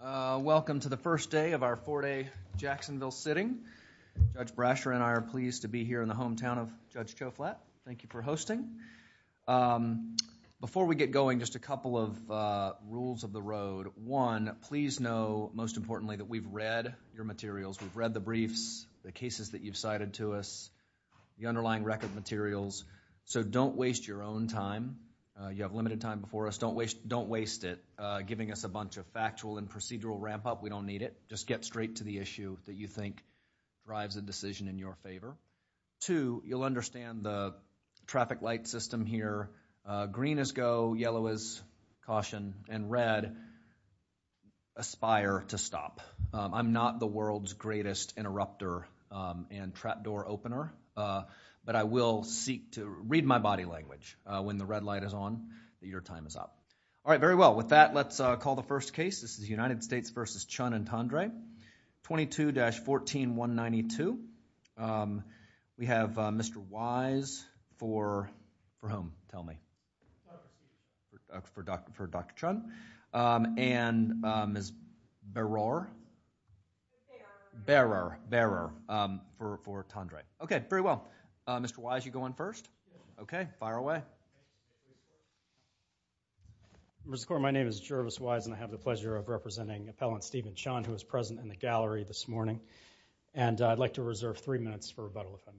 Welcome to the first day of our four-day Jacksonville sitting. Judge Brasher and I are pleased to be here in the hometown of Judge Cho Flatt. Thank you for hosting. Before we get going, just a couple of rules of the road. One, please know, most importantly, that we've read your materials. We've read the briefs, the cases that you've cited to us, the underlying record materials. So don't waste your own time. You have limited time before us. Don't waste it giving us a bunch of factual and procedural ramp-up. We don't need it. Just get straight to the issue that you think drives a decision in your favor. Two, you'll understand the traffic light system here. Green is go, yellow is caution, and red, aspire to stop. I'm not the world's greatest interrupter and trapdoor opener, but I will seek to read my body language. When the red light is on, your time is up. All right, very well. With that, let's call the first case. This is United States v. Chun and Tendre. 22-14192. We have Mr. Wise for whom? Tell me. For Dr. Chun. And Ms. Berrar? Berrar for Tendre. Okay, very well. Mr. Wise, you go in first. Okay, fire away. Members of the Court, my name is Jervis Wise and I have the pleasure of representing Appellant Stephen Chun who is present in the gallery this morning. And I'd like to reserve three minutes for rebuttal if I may.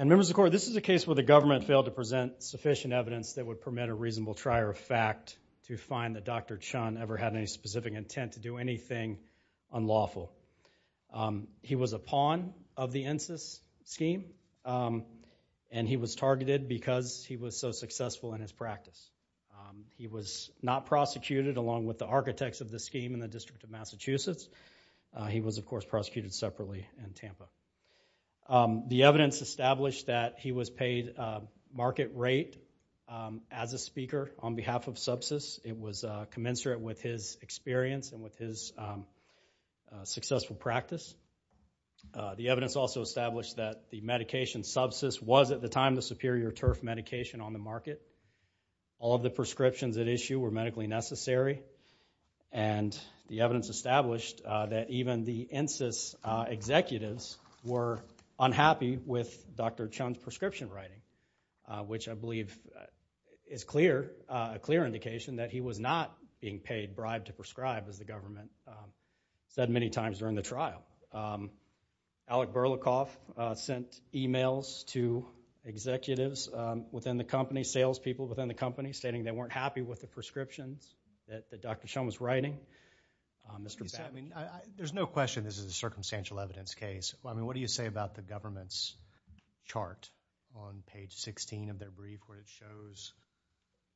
And Members of the Court, this is a case where the government failed to present sufficient evidence that would permit a reasonable trier of fact to find that Dr. Chun ever had any specific intent to do anything unlawful. He was a pawn of the INSIS scheme and he was targeted because he was so successful in his practice. He was not prosecuted along with the architects of the scheme in the District of Massachusetts. He was, of course, prosecuted separately in Tampa. The evidence established that he was paid a market rate as a speaker on behalf of subsist. It was commensurate with his experience and with his successful practice. The evidence also established that the medication subsist was, at the time, the superior turf medication on the market. All of the prescriptions at issue were medically necessary. And the evidence established that even the INSIS executives were unhappy with Dr. Chun's prescription writing, which I believe is clear, a clear indication that he was not being paid bribe to prescribe, as the government said many times during the trial. Alec Berlikoff sent emails to executives within the company, salespeople within the company, stating they weren't happy with the prescriptions that Dr. Chun was writing. Mr. Babbitt. I mean, there's no question this is a circumstantial evidence case. I mean, what do you say about the government's chart on page 16 of their brief, where it shows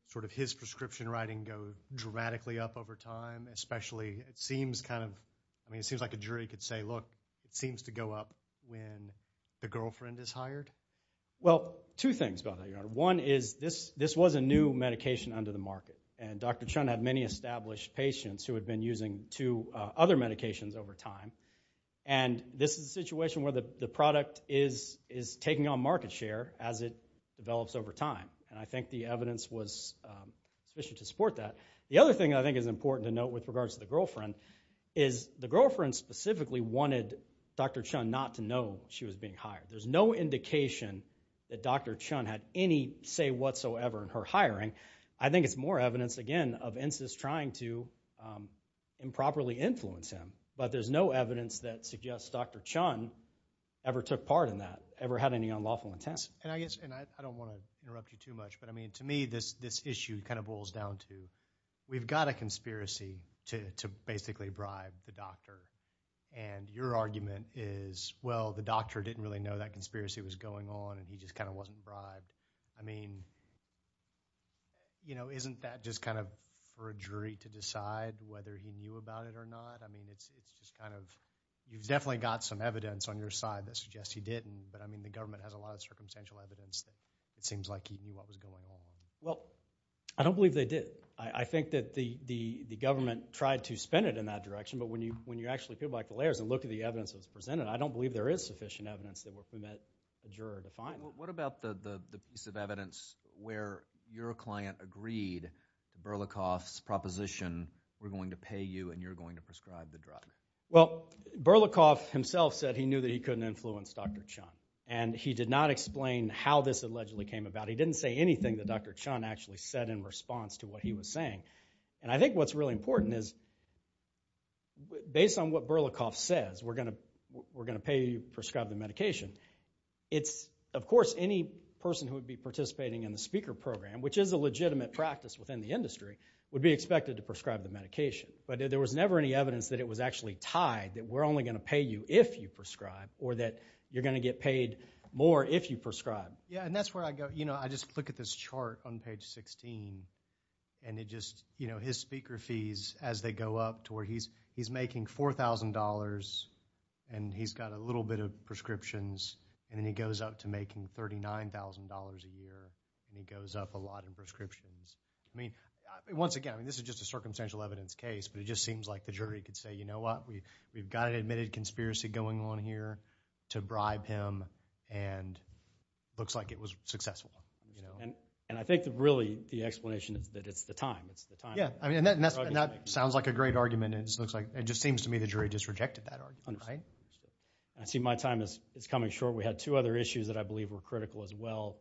sort of his prescription writing goes dramatically up over time, especially, it seems kind of, I mean, it seems like a jury could say, look, it seems to go up when the girlfriend is hired? Well, two things, Your Honor. One is this was a new medication under the market. And Dr. Chun had many established patients who had been using two other medications over time. And this is a situation where the product is taking on market share as it develops over time. And I think the evidence was sufficient to support that. The other thing I think is important to note with regards to the girlfriend is the girlfriend specifically wanted Dr. Chun not to know she was being hired. There's no indication that Dr. Chun had any say whatsoever in her hiring. I think it's more evidence, again, of INSIS trying to improperly influence him. But there's no evidence that suggests Dr. Chun ever took part in that, ever had any unlawful intent. And I guess, and I don't want to interrupt you too much, but I mean, to me, this issue kind of boils down to we've got a conspiracy to basically bribe the doctor. And your argument is, well, the doctor didn't really know that conspiracy was going on and he just kind of wasn't bribed. I mean, you know, isn't that just kind of for a jury to decide whether he knew about it or not? I mean, it's just kind of, you've definitely got some evidence on your side that suggests he didn't. But I mean, the government has a lot of circumstantial evidence that it seems like he knew what was going on. Well, I don't believe they did. I think that the government tried to spin it in that direction. But when you actually go back the layers and look at the evidence that's presented, I don't believe there is sufficient evidence that will permit a juror to find it. What about the piece of evidence where your client agreed, Berlakov's proposition, we're going to pay you and you're going to prescribe the drug? Well, Berlakov himself said he knew that he couldn't influence Dr. Chun. And he did not explain how this allegedly came about. He didn't say anything that Dr. Chun actually said in response to what he was saying. And I think what's really important is, based on what Berlakov says, we're going to pay you to prescribe the medication. It's, of course, any person who would be participating in the speaker program, which is a legitimate practice within the industry, would be expected to prescribe the medication. But there was never any evidence that it was actually tied, that we're only going to pay you if you prescribe or that you're going to get paid more if you prescribe. Yeah, and that's where I go, you know, I just look at this chart on page 16 and it just, you know, his speaker fees as they go up to where he's making $4,000 and he's got a little bit of prescriptions and then he goes up to where he's making $39,000 a year and he goes up a lot in prescriptions. I mean, once again, this is just a circumstantial evidence case, but it just seems like the jury could say, you know what, we've got an admitted conspiracy going on here to bribe him and it looks like it was successful. And I think that really the explanation is that it's the time, it's the time. Yeah, and that sounds like a great argument and it just seems to me the jury just rejected that argument, right? I see my time is coming short. We had two other issues that I believe were critical as well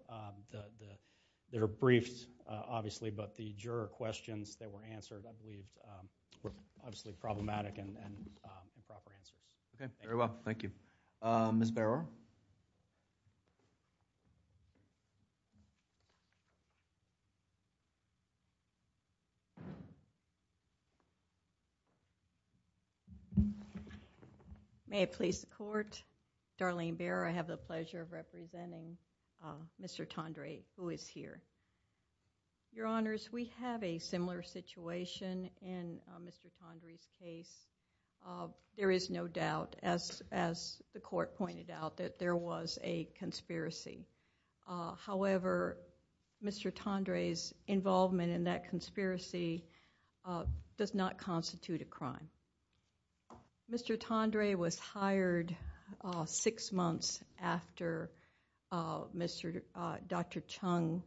that are briefed, obviously, but the juror questions that were answered, I believe, were obviously problematic and improper answers. Okay, very well, thank you. Ms. Barrow? May it please the Court, Darlene Barrow, I have the pleasure of representing Mr. Tendre, who is here. Your Honors, we have a similar situation in Mr. Tendre's case. There is no doubt, as the Court pointed out, that there was a conspiracy. However, Mr. Tendre's involvement in that conspiracy does not constitute a crime. Mr. Tendre was hired six months after Dr. Chung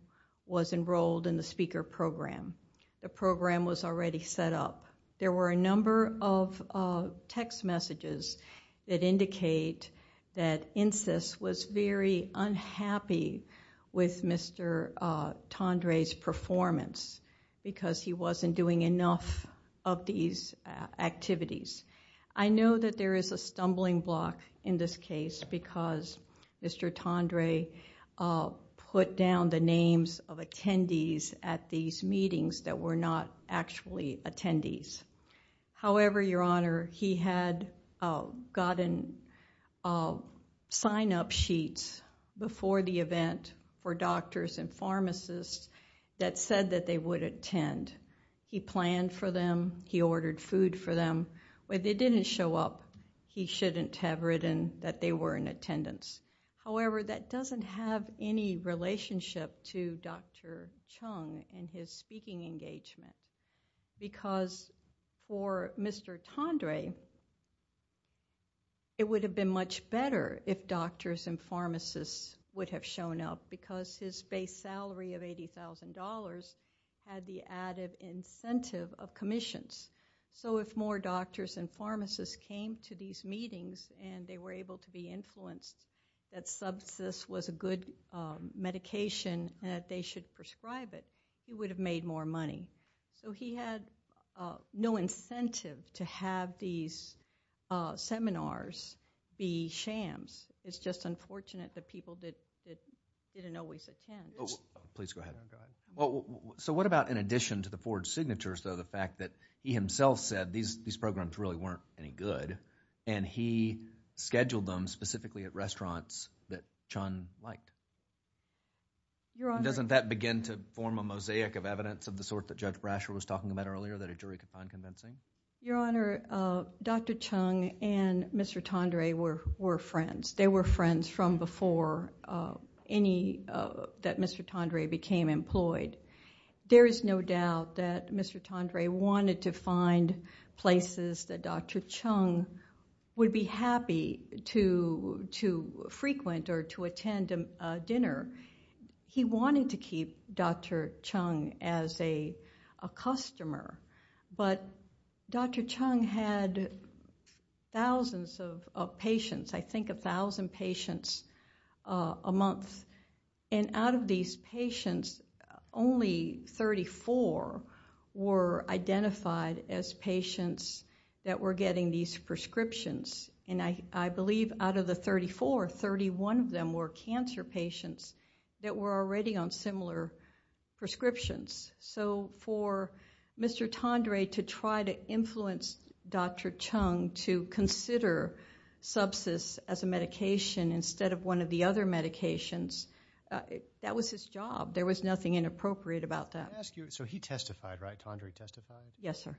was enrolled in the speaker program. The program was already set up. There were a number of text messages that indicate that INCIS was very unhappy with Mr. Tendre's performance because he wasn't doing enough of these activities. I know that there is a stumbling block in this case because Mr. Tendre put down the names of attendees at these meetings that were not actually attendees. However, Your Honor, he had gotten sign-up sheets before the event for doctors and pharmacists that said that they would attend. He planned for them. He ordered food for them. When they didn't show up, he shouldn't have written that they were in attendance. However, that doesn't have any relationship to Dr. Chung and his speaking engagement. For Mr. Tendre, it would have been much better if doctors and pharmacists would have shown up because his base salary of $80,000 had the added incentive of commissions. If more doctors and pharmacists came to these meetings and they were able to be influenced that subsist was a good medication and that they should prescribe it, he would have made more money. He had no incentive to have these seminars be shams. It's just unfortunate that people didn't always attend. Please go ahead. What about in addition to the forged signatures, the fact that he himself said these programs really weren't any good and he scheduled them specifically at restaurants that Chun liked? Doesn't that begin to form a mosaic of evidence of the sort that Judge Brasher was talking about earlier that a jury could find convincing? Your Honor, Dr. Chung and Mr. Tendre were friends. They were friends from before that Mr. Tendre became employed. There is no doubt that Mr. Tendre wanted to find places that Dr. Chung would be happy to frequent or to attend a dinner. He wanted to keep Dr. Chung as a customer, but Dr. Chung had thousands of patients, I think 1,000 patients a month. Out of these patients, only 34 were identified as patients that were getting these prescriptions. I believe out of the 34, 31 of them were cancer patients that were already on similar prescriptions. For Mr. Tendre to try to influence Dr. Chung to consider subsist as a medication instead of one of the other medications, that was his job. There was nothing inappropriate about that. Let me ask you, so he testified, right? Tendre testified? Yes, sir.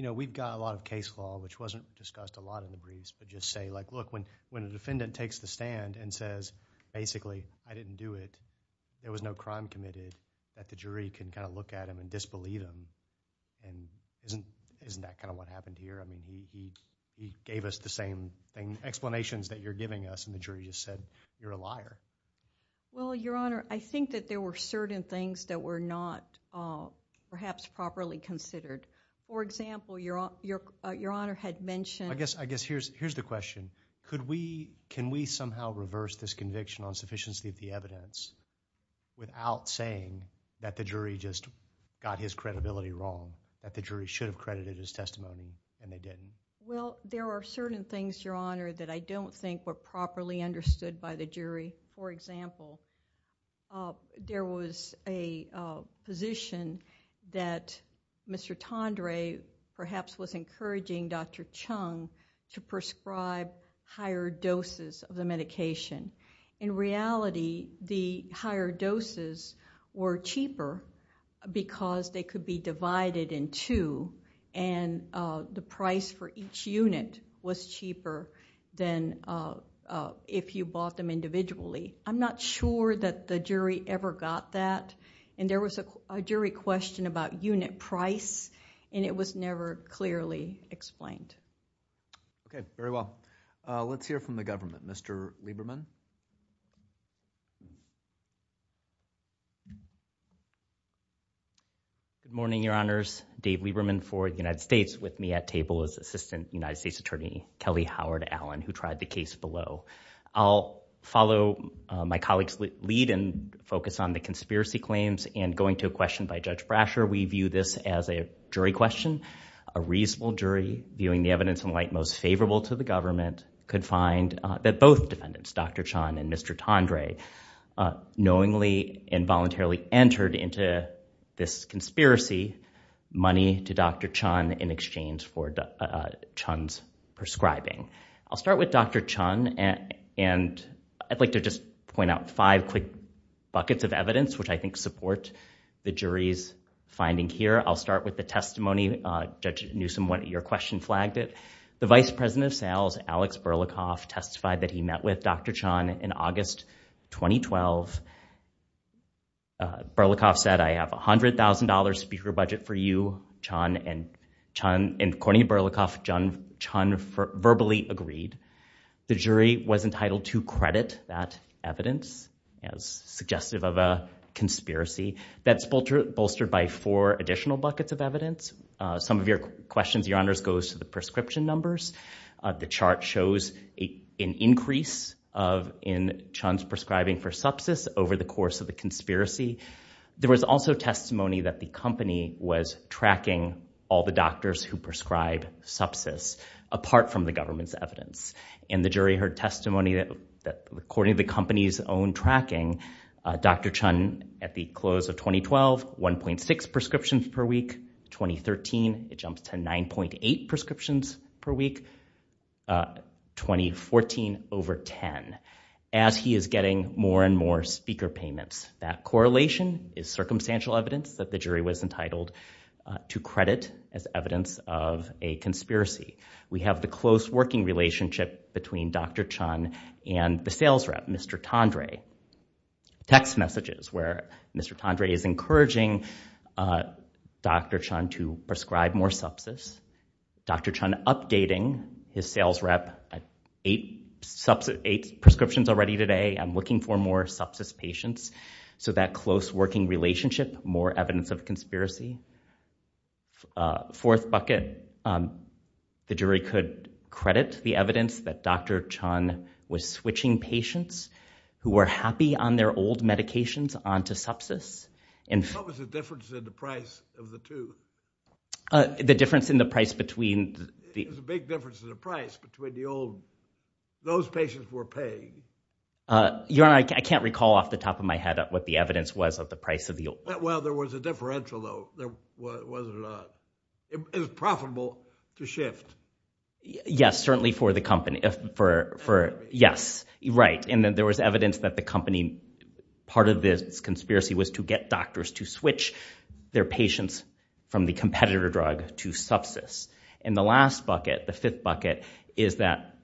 We've got a lot of case law, which wasn't discussed a lot in the briefs, but just say, look, when a defendant takes the stand and says, basically, I didn't do it, there was no crime committed, that the jury can look at him and disbelieve him. Isn't that what happened here? He gave us the same explanations that you're giving us, and the jury just said, you're a liar. Well, Your Honor, I think that there were certain things that were not perhaps properly considered. For example, Your Honor had mentioned- I guess here's the question. Can we somehow reverse this conviction on sufficiency of the evidence without saying that the jury just got his credibility wrong, that the jury should have credited his testimony, and they didn't? Well, there are certain things, Your Honor, that I don't think were properly understood by the jury. For example, there was a position that Mr. Tendre perhaps was encouraging Dr. Chung to prescribe higher doses of the medication. In reality, the higher doses were cheaper because they could be divided in two, and the price for each unit was cheaper than if you bought them individually. I'm not sure that the jury ever got that. There was a jury question about unit price, and it was never clearly explained. Okay, very well. Let's hear from the government. Mr. Lieberman? Good morning, Your Honors. Dave Lieberman for the United States with me at table as Assistant United States Attorney Kelly Howard Allen, who tried the case below. I'll follow my colleague's lead and focus on the conspiracy claims and going to a question by Judge Brasher. We view this as a jury question. A reasonable jury, viewing the evidence in light most favorable to the government, could find that both defendants, Dr. Chung and Mr. Tendre, knowingly and voluntarily entered into this conspiracy money to Dr. Chung in exchange for Chung's prescribing. I'll start with Dr. Chung, and I'd like to just point out five quick buckets of evidence, which I think support the jury's finding here. I'll start with the testimony. Judge Newsom, your question flagged it. The Vice President of Sales, Alex Berlikoff, testified that he met with Dr. Chung in August 2012. Berlikoff said, I have $100,000 speaker budget for you, Chung, and Berlikoff verbally agreed. The jury was entitled to credit that evidence as suggestive of a conspiracy. That's bolstered by four additional buckets of evidence. Some of your questions, Your Honors, goes to the numbers. The chart shows an increase in Chung's prescribing for sepsis over the course of the conspiracy. There was also testimony that the company was tracking all the doctors who prescribe sepsis, apart from the government's evidence. And the jury heard testimony that, according to the company's own tracking, Dr. Chung, at the close of 2012, 1.6 prescriptions per week. 2013, it jumps to 9.8 prescriptions per week. 2014, over 10, as he is getting more and more speaker payments. That correlation is circumstantial evidence that the jury was entitled to credit as evidence of a conspiracy. We have the close working relationship between Dr. Chung and the Mr. Tondre. Text messages where Mr. Tondre is encouraging Dr. Chung to prescribe more sepsis. Dr. Chung updating his sales rep at eight prescriptions already today. I'm looking for more sepsis patients. So that close working relationship, more evidence of conspiracy. Fourth bucket, the jury could credit the evidence that Dr. Chung was switching patients who were happy on their old medications onto sepsis. What was the difference in the price of the two? The difference in the price between the... There's a big difference in the price between the old. Those patients were paying. Your Honor, I can't recall off the top of my head what the evidence was of the price of the old. Well, there was a differential though. It was profitable to shift. Yes, certainly for the company. Yes, right. And then there was evidence that the company, part of this conspiracy was to get doctors to switch their patients from the competitor drug to sepsis. And the last bucket, the fifth bucket, is that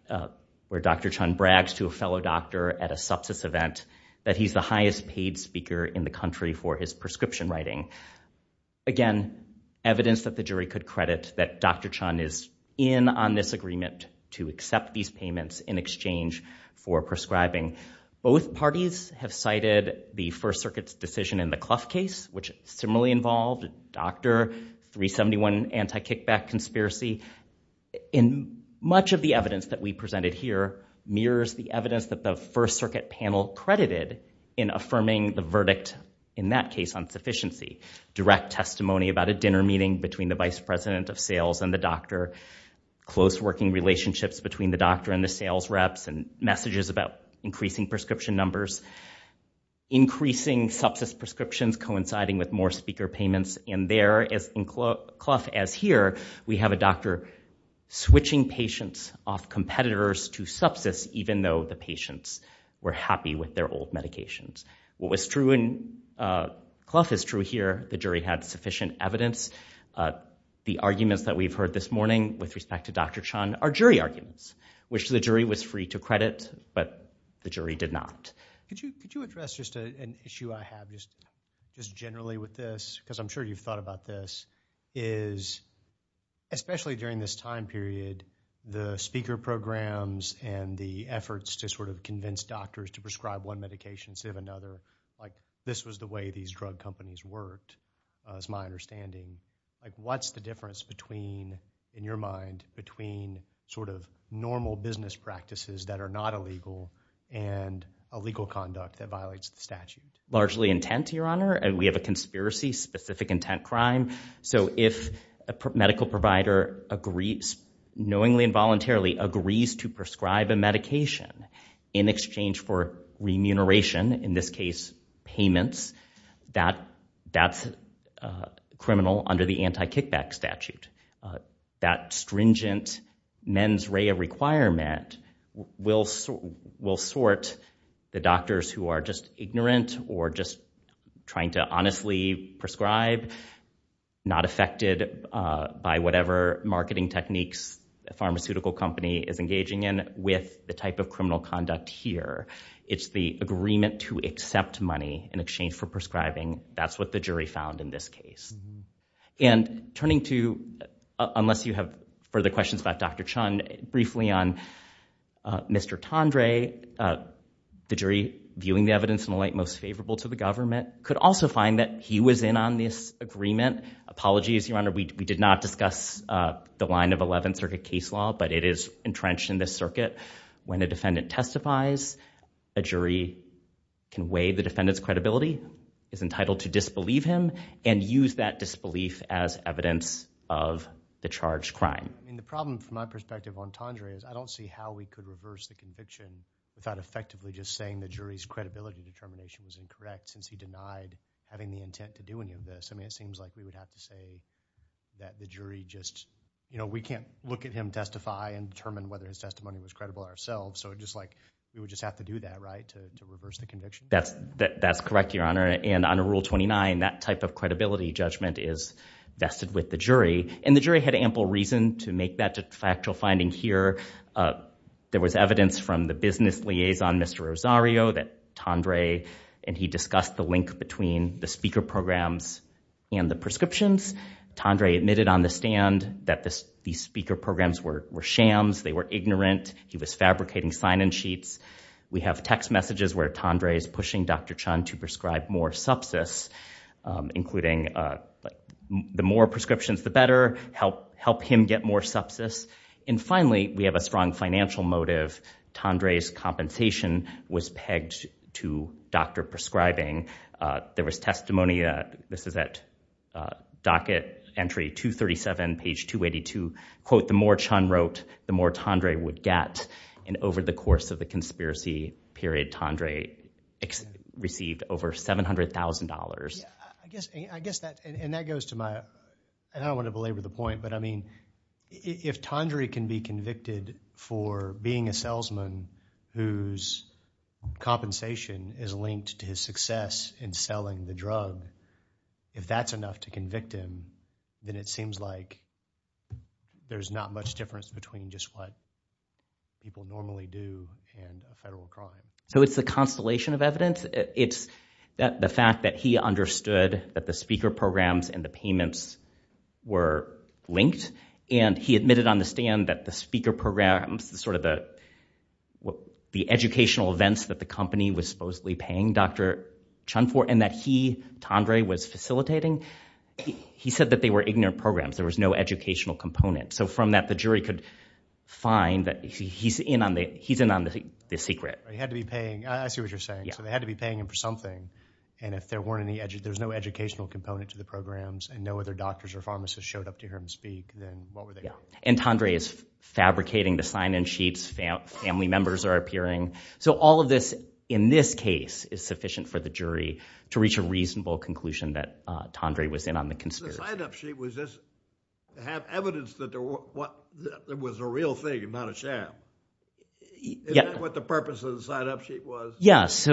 where Dr. Chung brags to a fellow doctor at a sepsis event that he's the highest paid speaker in the country for his prescription writing. Again, evidence that the jury could credit that Dr. Chung is in on this agreement to accept these payments in exchange for prescribing. Both parties have cited the First Circuit's decision in the Clough case, which similarly involved Dr. 371 anti-kickback conspiracy. And much of the evidence that we presented here mirrors the evidence that the First Circuit panel credited in affirming the verdict in that case on sufficiency. Direct testimony about a dinner meeting between the vice president of sales and the doctor, close working relationships between the doctor and the sales reps, and messages about increasing prescription numbers, increasing sepsis prescriptions coinciding with more speaker payments. And there, as in Clough as here, we have a doctor switching patients off competitors to sepsis even though the patients were happy with their old medications. What was true in Clough is true here. The jury had sufficient evidence. The arguments that we've heard this morning with respect to Dr. Chung are jury arguments, which the jury was free to credit, but the jury did not. Could you address just an issue I have just generally with this, because I'm sure you've thought about this, is especially during this time period, the speaker programs and the efforts to sort of convince doctors to prescribe one medication, save another. Like, this was the way these drug companies worked, as my understanding. Like, what's the difference between, in your mind, between sort of normal business practices that are not illegal and illegal conduct that violates the statute? Largely intent, Your Honor. We have a conspiracy, specific intent crime. So if a medical provider knowingly and voluntarily agrees to prescribe a medication in exchange for remuneration, in this case payments, that's criminal under the anti-kickback statute. That stringent mens rea requirement will sort the doctors who are just ignorant or just trying to honestly prescribe, not affected by whatever marketing techniques a pharmaceutical company is engaging in, with the type of criminal conduct here. It's the agreement to accept money in exchange for prescribing. That's what the jury found in this case. And turning to, unless you have further questions about Dr. Chung, briefly on Mr. Tendre, the jury viewing the evidence in the light most favorable to the government, could also find that he was in on this agreement. Apologies, Your Honor, we did not discuss the line of 11th Circuit case law, but it is entrenched in this circuit. When a defendant testifies, a jury can weigh the defendant's credibility, is entitled to disbelieve him, and use that disbelief as evidence of the charged crime. The problem, from my perspective, on Tendre, is I don't see how we could reverse the conviction without effectively just saying the jury's credibility determination was incorrect, since he denied having the intent to do any of this. I mean, it seems like we would have to say that the jury just, you know, we can't look at him testify and determine whether his testimony was credible ourselves, so it's just like, we would just have to do that, right, to reverse the conviction? That's correct, Your Honor, and under Rule 29, that type of credibility judgment is vested with the jury, and the jury had ample reason to make that factual finding here. There was evidence from the business liaison, Mr. Rosario, that Tendre, and he discussed the link between the speaker programs and the prescriptions. Tendre admitted on the stand that these speaker programs were shams, they were ignorant, he was fabricating sign-in sheets. We have text messages where Tendre is pushing Dr. Chun to prescribe more sepsis, including the more prescriptions the better, help him get more sepsis, and finally, we have a strong financial motive. Tendre's compensation was pegged to Dr. prescribing. There was testimony, this is at docket entry 237, page 282, quote, the more Chun over $700,000. Yeah, I guess, I guess that, and that goes to my, and I don't want to belabor the point, but I mean, if Tendre can be convicted for being a salesman whose compensation is linked to his success in selling the drug, if that's enough to convict him, then it seems like there's not much difference between just what people normally do and a federal crime. So it's a constellation of evidence. It's the fact that he understood that the speaker programs and the payments were linked, and he admitted on the stand that the speaker programs, sort of the, the educational events that the company was supposedly paying Dr. Chun for, and that he, Tendre, was facilitating, he said that they were ignorant programs. There was no educational component. So from that, the jury could find that he's in on the, he's in on the secret. He had to be paying, I see what you're saying. So they had to be paying him for something, and if there weren't any, there's no educational component to the programs, and no other doctors or pharmacists showed up to hear him speak, then what were they doing? And Tendre is fabricating the sign-in sheets, family members are appearing. So all of this, in this case, is sufficient for the jury to reach a reasonable conclusion that Tendre was in on the conspiracy. The sign-up sheet was just to have evidence that there was a real thing and not a sham. Is that what the purpose of the sign-up sheet was? Yes. So,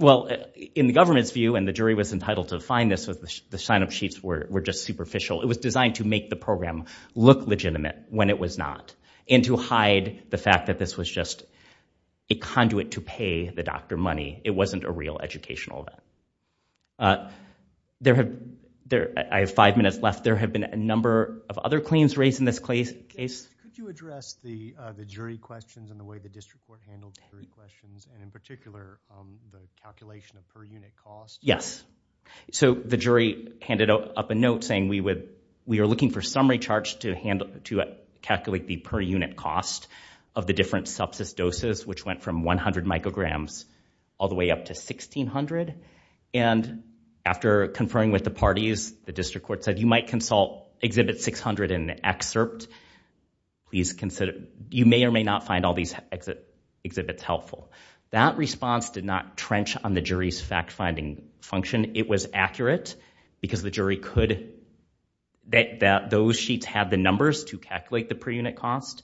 well, in the government's view, and the jury was entitled to find this, the sign-up sheets were just superficial. It was designed to make the program look legitimate when it was not, and to hide the fact that this was just a conduit to pay the doctor money. It wasn't a real educational event. There have, I have five minutes left. There have been a number of other claims raised in this case. Could you address the jury questions and the way the district court handled jury questions, and in particular, the calculation of per-unit costs? Yes. So the jury handed up a note saying we would, we are looking for summary charge to handle, to calculate the per-unit cost of the different sepsis doses, which went from 100 micrograms all the way up to 1,600. And after conferring with the parties, the district court said you might consult exhibit 600 and excerpt. Please consider, you may or may not find all these exhibits helpful. That response did not trench on the jury's fact-finding function. It was accurate because the jury could, that those sheets had the numbers to calculate the per-unit cost.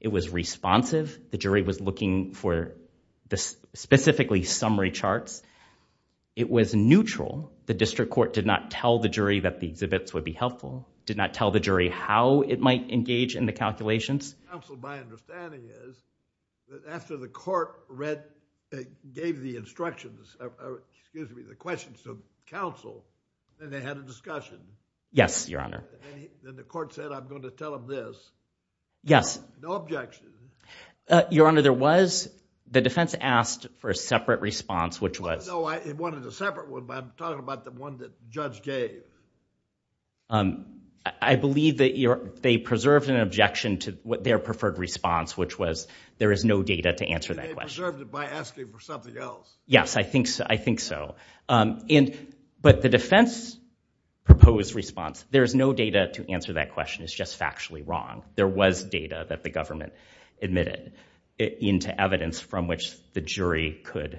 It was responsive. The jury was looking for specifically summary charts. It was neutral. The district court did not tell the jury that the exhibits would be helpful, did not tell the jury how it might engage in the calculations. Counsel, my understanding is that after the court read, gave the instructions, excuse me, the questions to counsel, then they had a discussion. Yes, your honor. Then the court said I'm going to tell him this. Yes. No objections. Your honor, there was, the defense asked for a separate response, which was. No, it wanted a separate one, but I'm talking about the one that judge gave. I believe that they preserved an objection to what their preferred response, which was there is no data to answer that question. They preserved it by asking for something else. Yes, I think so. I think so. But the defense proposed response, there is no data to answer that question. It's just factually wrong. There was data that the government admitted into evidence from which the jury could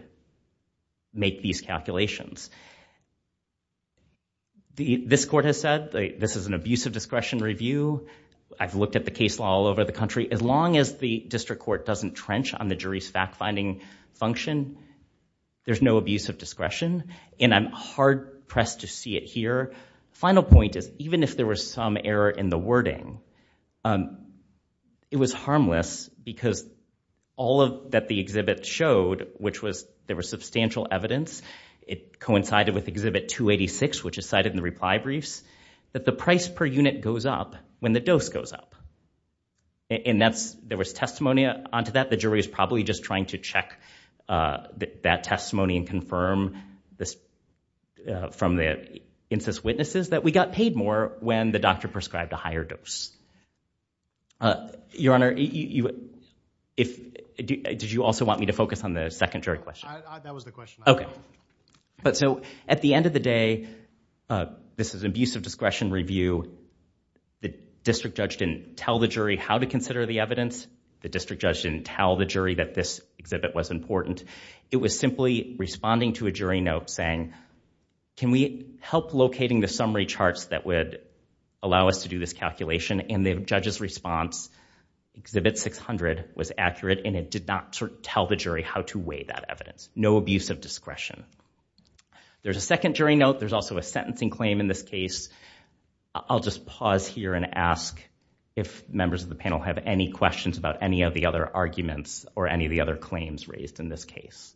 make these calculations. This court has said this is an abuse of discretion review. I've looked at the case law all over the country. As long as the district court doesn't trench on the jury's fact-finding function, there's no abuse of discretion, and I'm hard-pressed to see it here. Final point is even if there was some error in the wording, it was harmless because all that the exhibit showed, which was there was substantial evidence, it coincided with exhibit 286, which is cited in the reply briefs, that the price per unit goes up when the dose goes up. And there was testimony onto that. The jury is probably just trying to check that testimony and confirm from the incest witnesses that we got paid more when the focus on the second jury question. At the end of the day, this is an abuse of discretion review. The district judge didn't tell the jury how to consider the evidence. The district judge didn't tell the jury that this exhibit was important. It was simply responding to a jury note saying, can we help locating the summary charts that would allow us to do this calculation? And the judge's response, exhibit 600, was accurate, and it did not tell the jury how to weigh that evidence. No abuse of discretion. There's a second jury note. There's also a sentencing claim in this case. I'll just pause here and ask if members of the panel have any questions about any of the other arguments or any of the other claims raised in this case.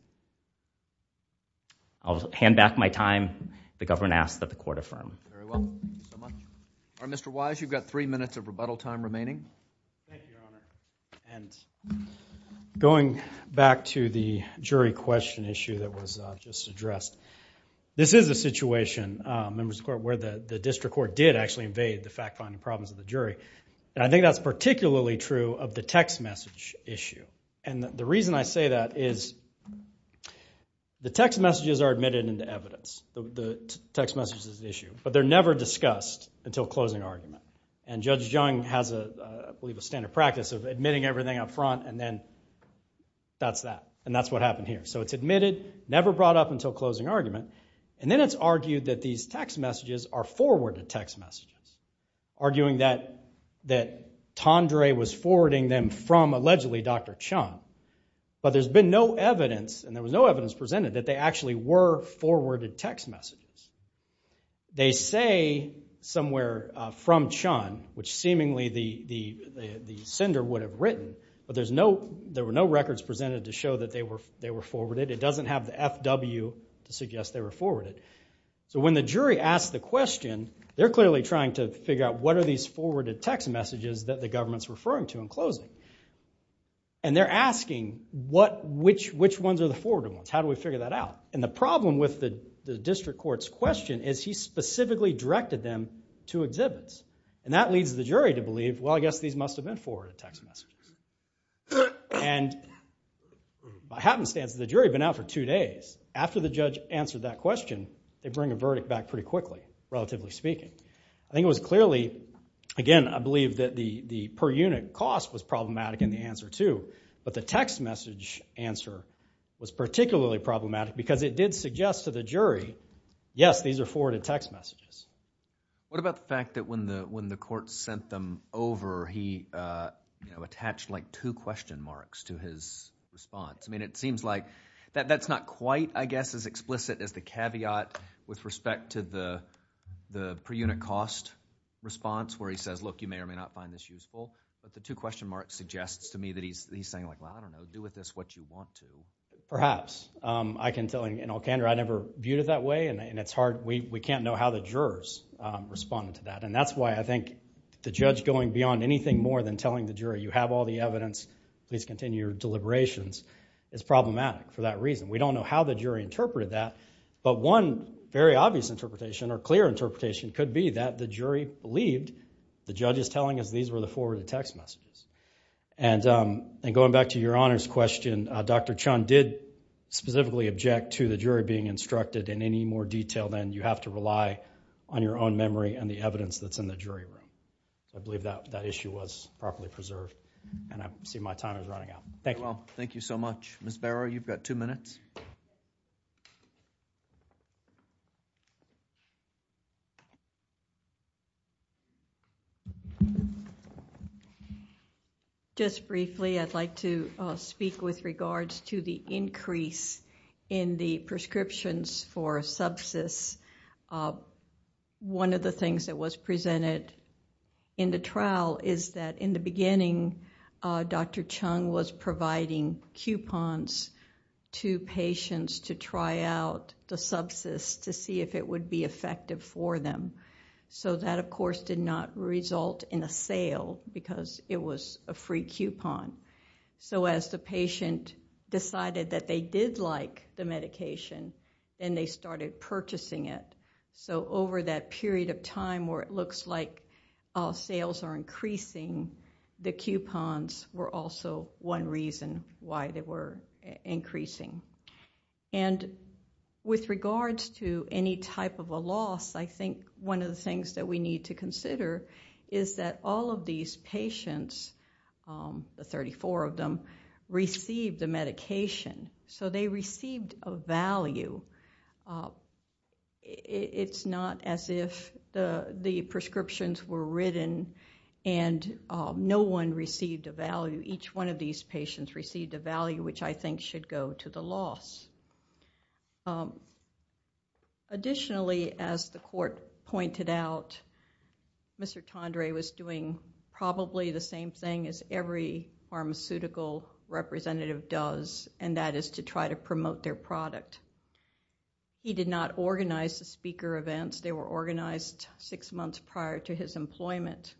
I'll hand back my time. The government asks that the court affirm. Very well. Thank you so much. Mr. Wise, you've got three minutes of rebuttal time remaining. Thank you, Your Honor. Going back to the jury question issue that was just addressed, this is a situation, members of the court, where the district court did actually invade the fact finding problems of the jury. I think that's particularly true of the text message issue. The reason I say that is the text messages are admitted into evidence. The text message is the never discussed until closing argument. And Judge Jung has, I believe, a standard practice of admitting everything up front, and then that's that. And that's what happened here. So it's admitted, never brought up until closing argument. And then it's argued that these text messages are forwarded text messages, arguing that Tendre was forwarding them from, allegedly, Dr. Chung. But there's been no evidence, and there was no evidence presented that they actually were forwarded text messages. They say somewhere, from Chung, which seemingly the sender would have written, but there were no records presented to show that they were forwarded. It doesn't have the FW to suggest they were forwarded. So when the jury asks the question, they're clearly trying to figure out what are these forwarded text messages that the government's referring to in closing. And they're asking, which ones are the forwarded ones? How do we figure that out? And the problem the district court's question is he specifically directed them to exhibits. And that leads the jury to believe, well, I guess these must have been forwarded text messages. And by happenstance, the jury had been out for two days. After the judge answered that question, they bring a verdict back pretty quickly, relatively speaking. I think it was clearly, again, I believe that the per unit cost was problematic in the answer, too. But the text message answer was particularly problematic because it did suggest to the jury, yes, these are forwarded text messages. What about the fact that when the court sent them over, he attached like two question marks to his response? I mean, it seems like that's not quite, I guess, as explicit as the caveat with respect to the per unit cost response where he says, look, you may or may not find this useful. But the two question marks suggests to me that he's saying like, well, I don't know, you can do with this what you want to. Perhaps. I can tell you, in all candor, I never viewed it that way. And it's hard, we can't know how the jurors responded to that. And that's why I think the judge going beyond anything more than telling the jury, you have all the evidence, please continue your deliberations, is problematic for that reason. We don't know how the jury interpreted that. But one very obvious interpretation or clear interpretation could be that the jury believed the judge is telling us these were the forwarded text messages. And going back to your honors question, Dr. Chun did specifically object to the jury being instructed in any more detail than you have to rely on your own memory and the evidence that's in the jury room. I believe that issue was properly preserved. And I see my time is running out. Thank you. Well, thank you so much. Ms. Barrow, you've got two minutes. Just briefly, I'd like to speak with regards to the increase in the prescriptions for subsist. One of the things that was presented in the trial is that in the beginning, Dr. Chun was providing coupons to patients to try out the subsist to see if it would be effective for them. So that, of course, did not result in a sale because it was a free coupon. So as the patient decided that they did like the medication, then they started purchasing it. So over that period of time where it looks like sales are increasing, the coupons were also one reason why they were increasing. And with regards to any type of a loss, I think one of the things that we need to consider is that all of these patients, the 34 of them, received the medication. So they received a value. It's not as if the prescriptions were written and no one received a value. Each one these patients received a value, which I think should go to the loss. Additionally, as the court pointed out, Mr. Tendre was doing probably the same thing as every pharmaceutical representative does, and that is to try to promote their product. He did not organize the speaker events. They were organized six months prior to his employment.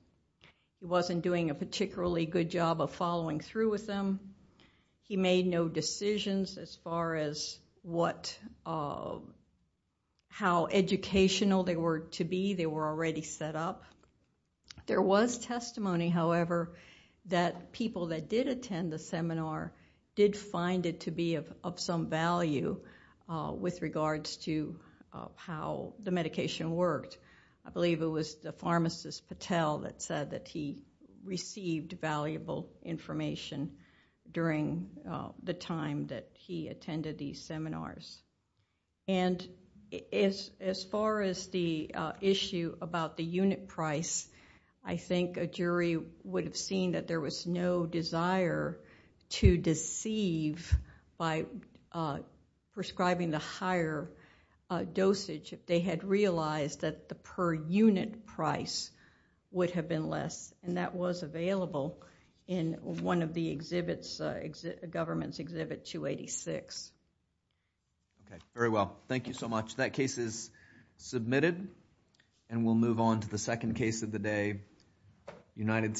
He wasn't doing a particularly good job of following through with them. He made no decisions as far as how educational they were to be. They were already set up. There was testimony, however, that people that did attend the seminar did find it to be of some value with regards to how the medication worked. I believe it was the pharmacist, Patel, that said that he received valuable information during the time that he attended these seminars. And as far as the issue about the unit price, I think a jury would have seen that there was no desire to deceive by prescribing the higher dosage if they had realized that the per unit price would have been less, and that was available in one of the government's Exhibit 286. Okay. Very well. Thank you so much. That case is submitted, and we'll move on to the second case of the day, United States.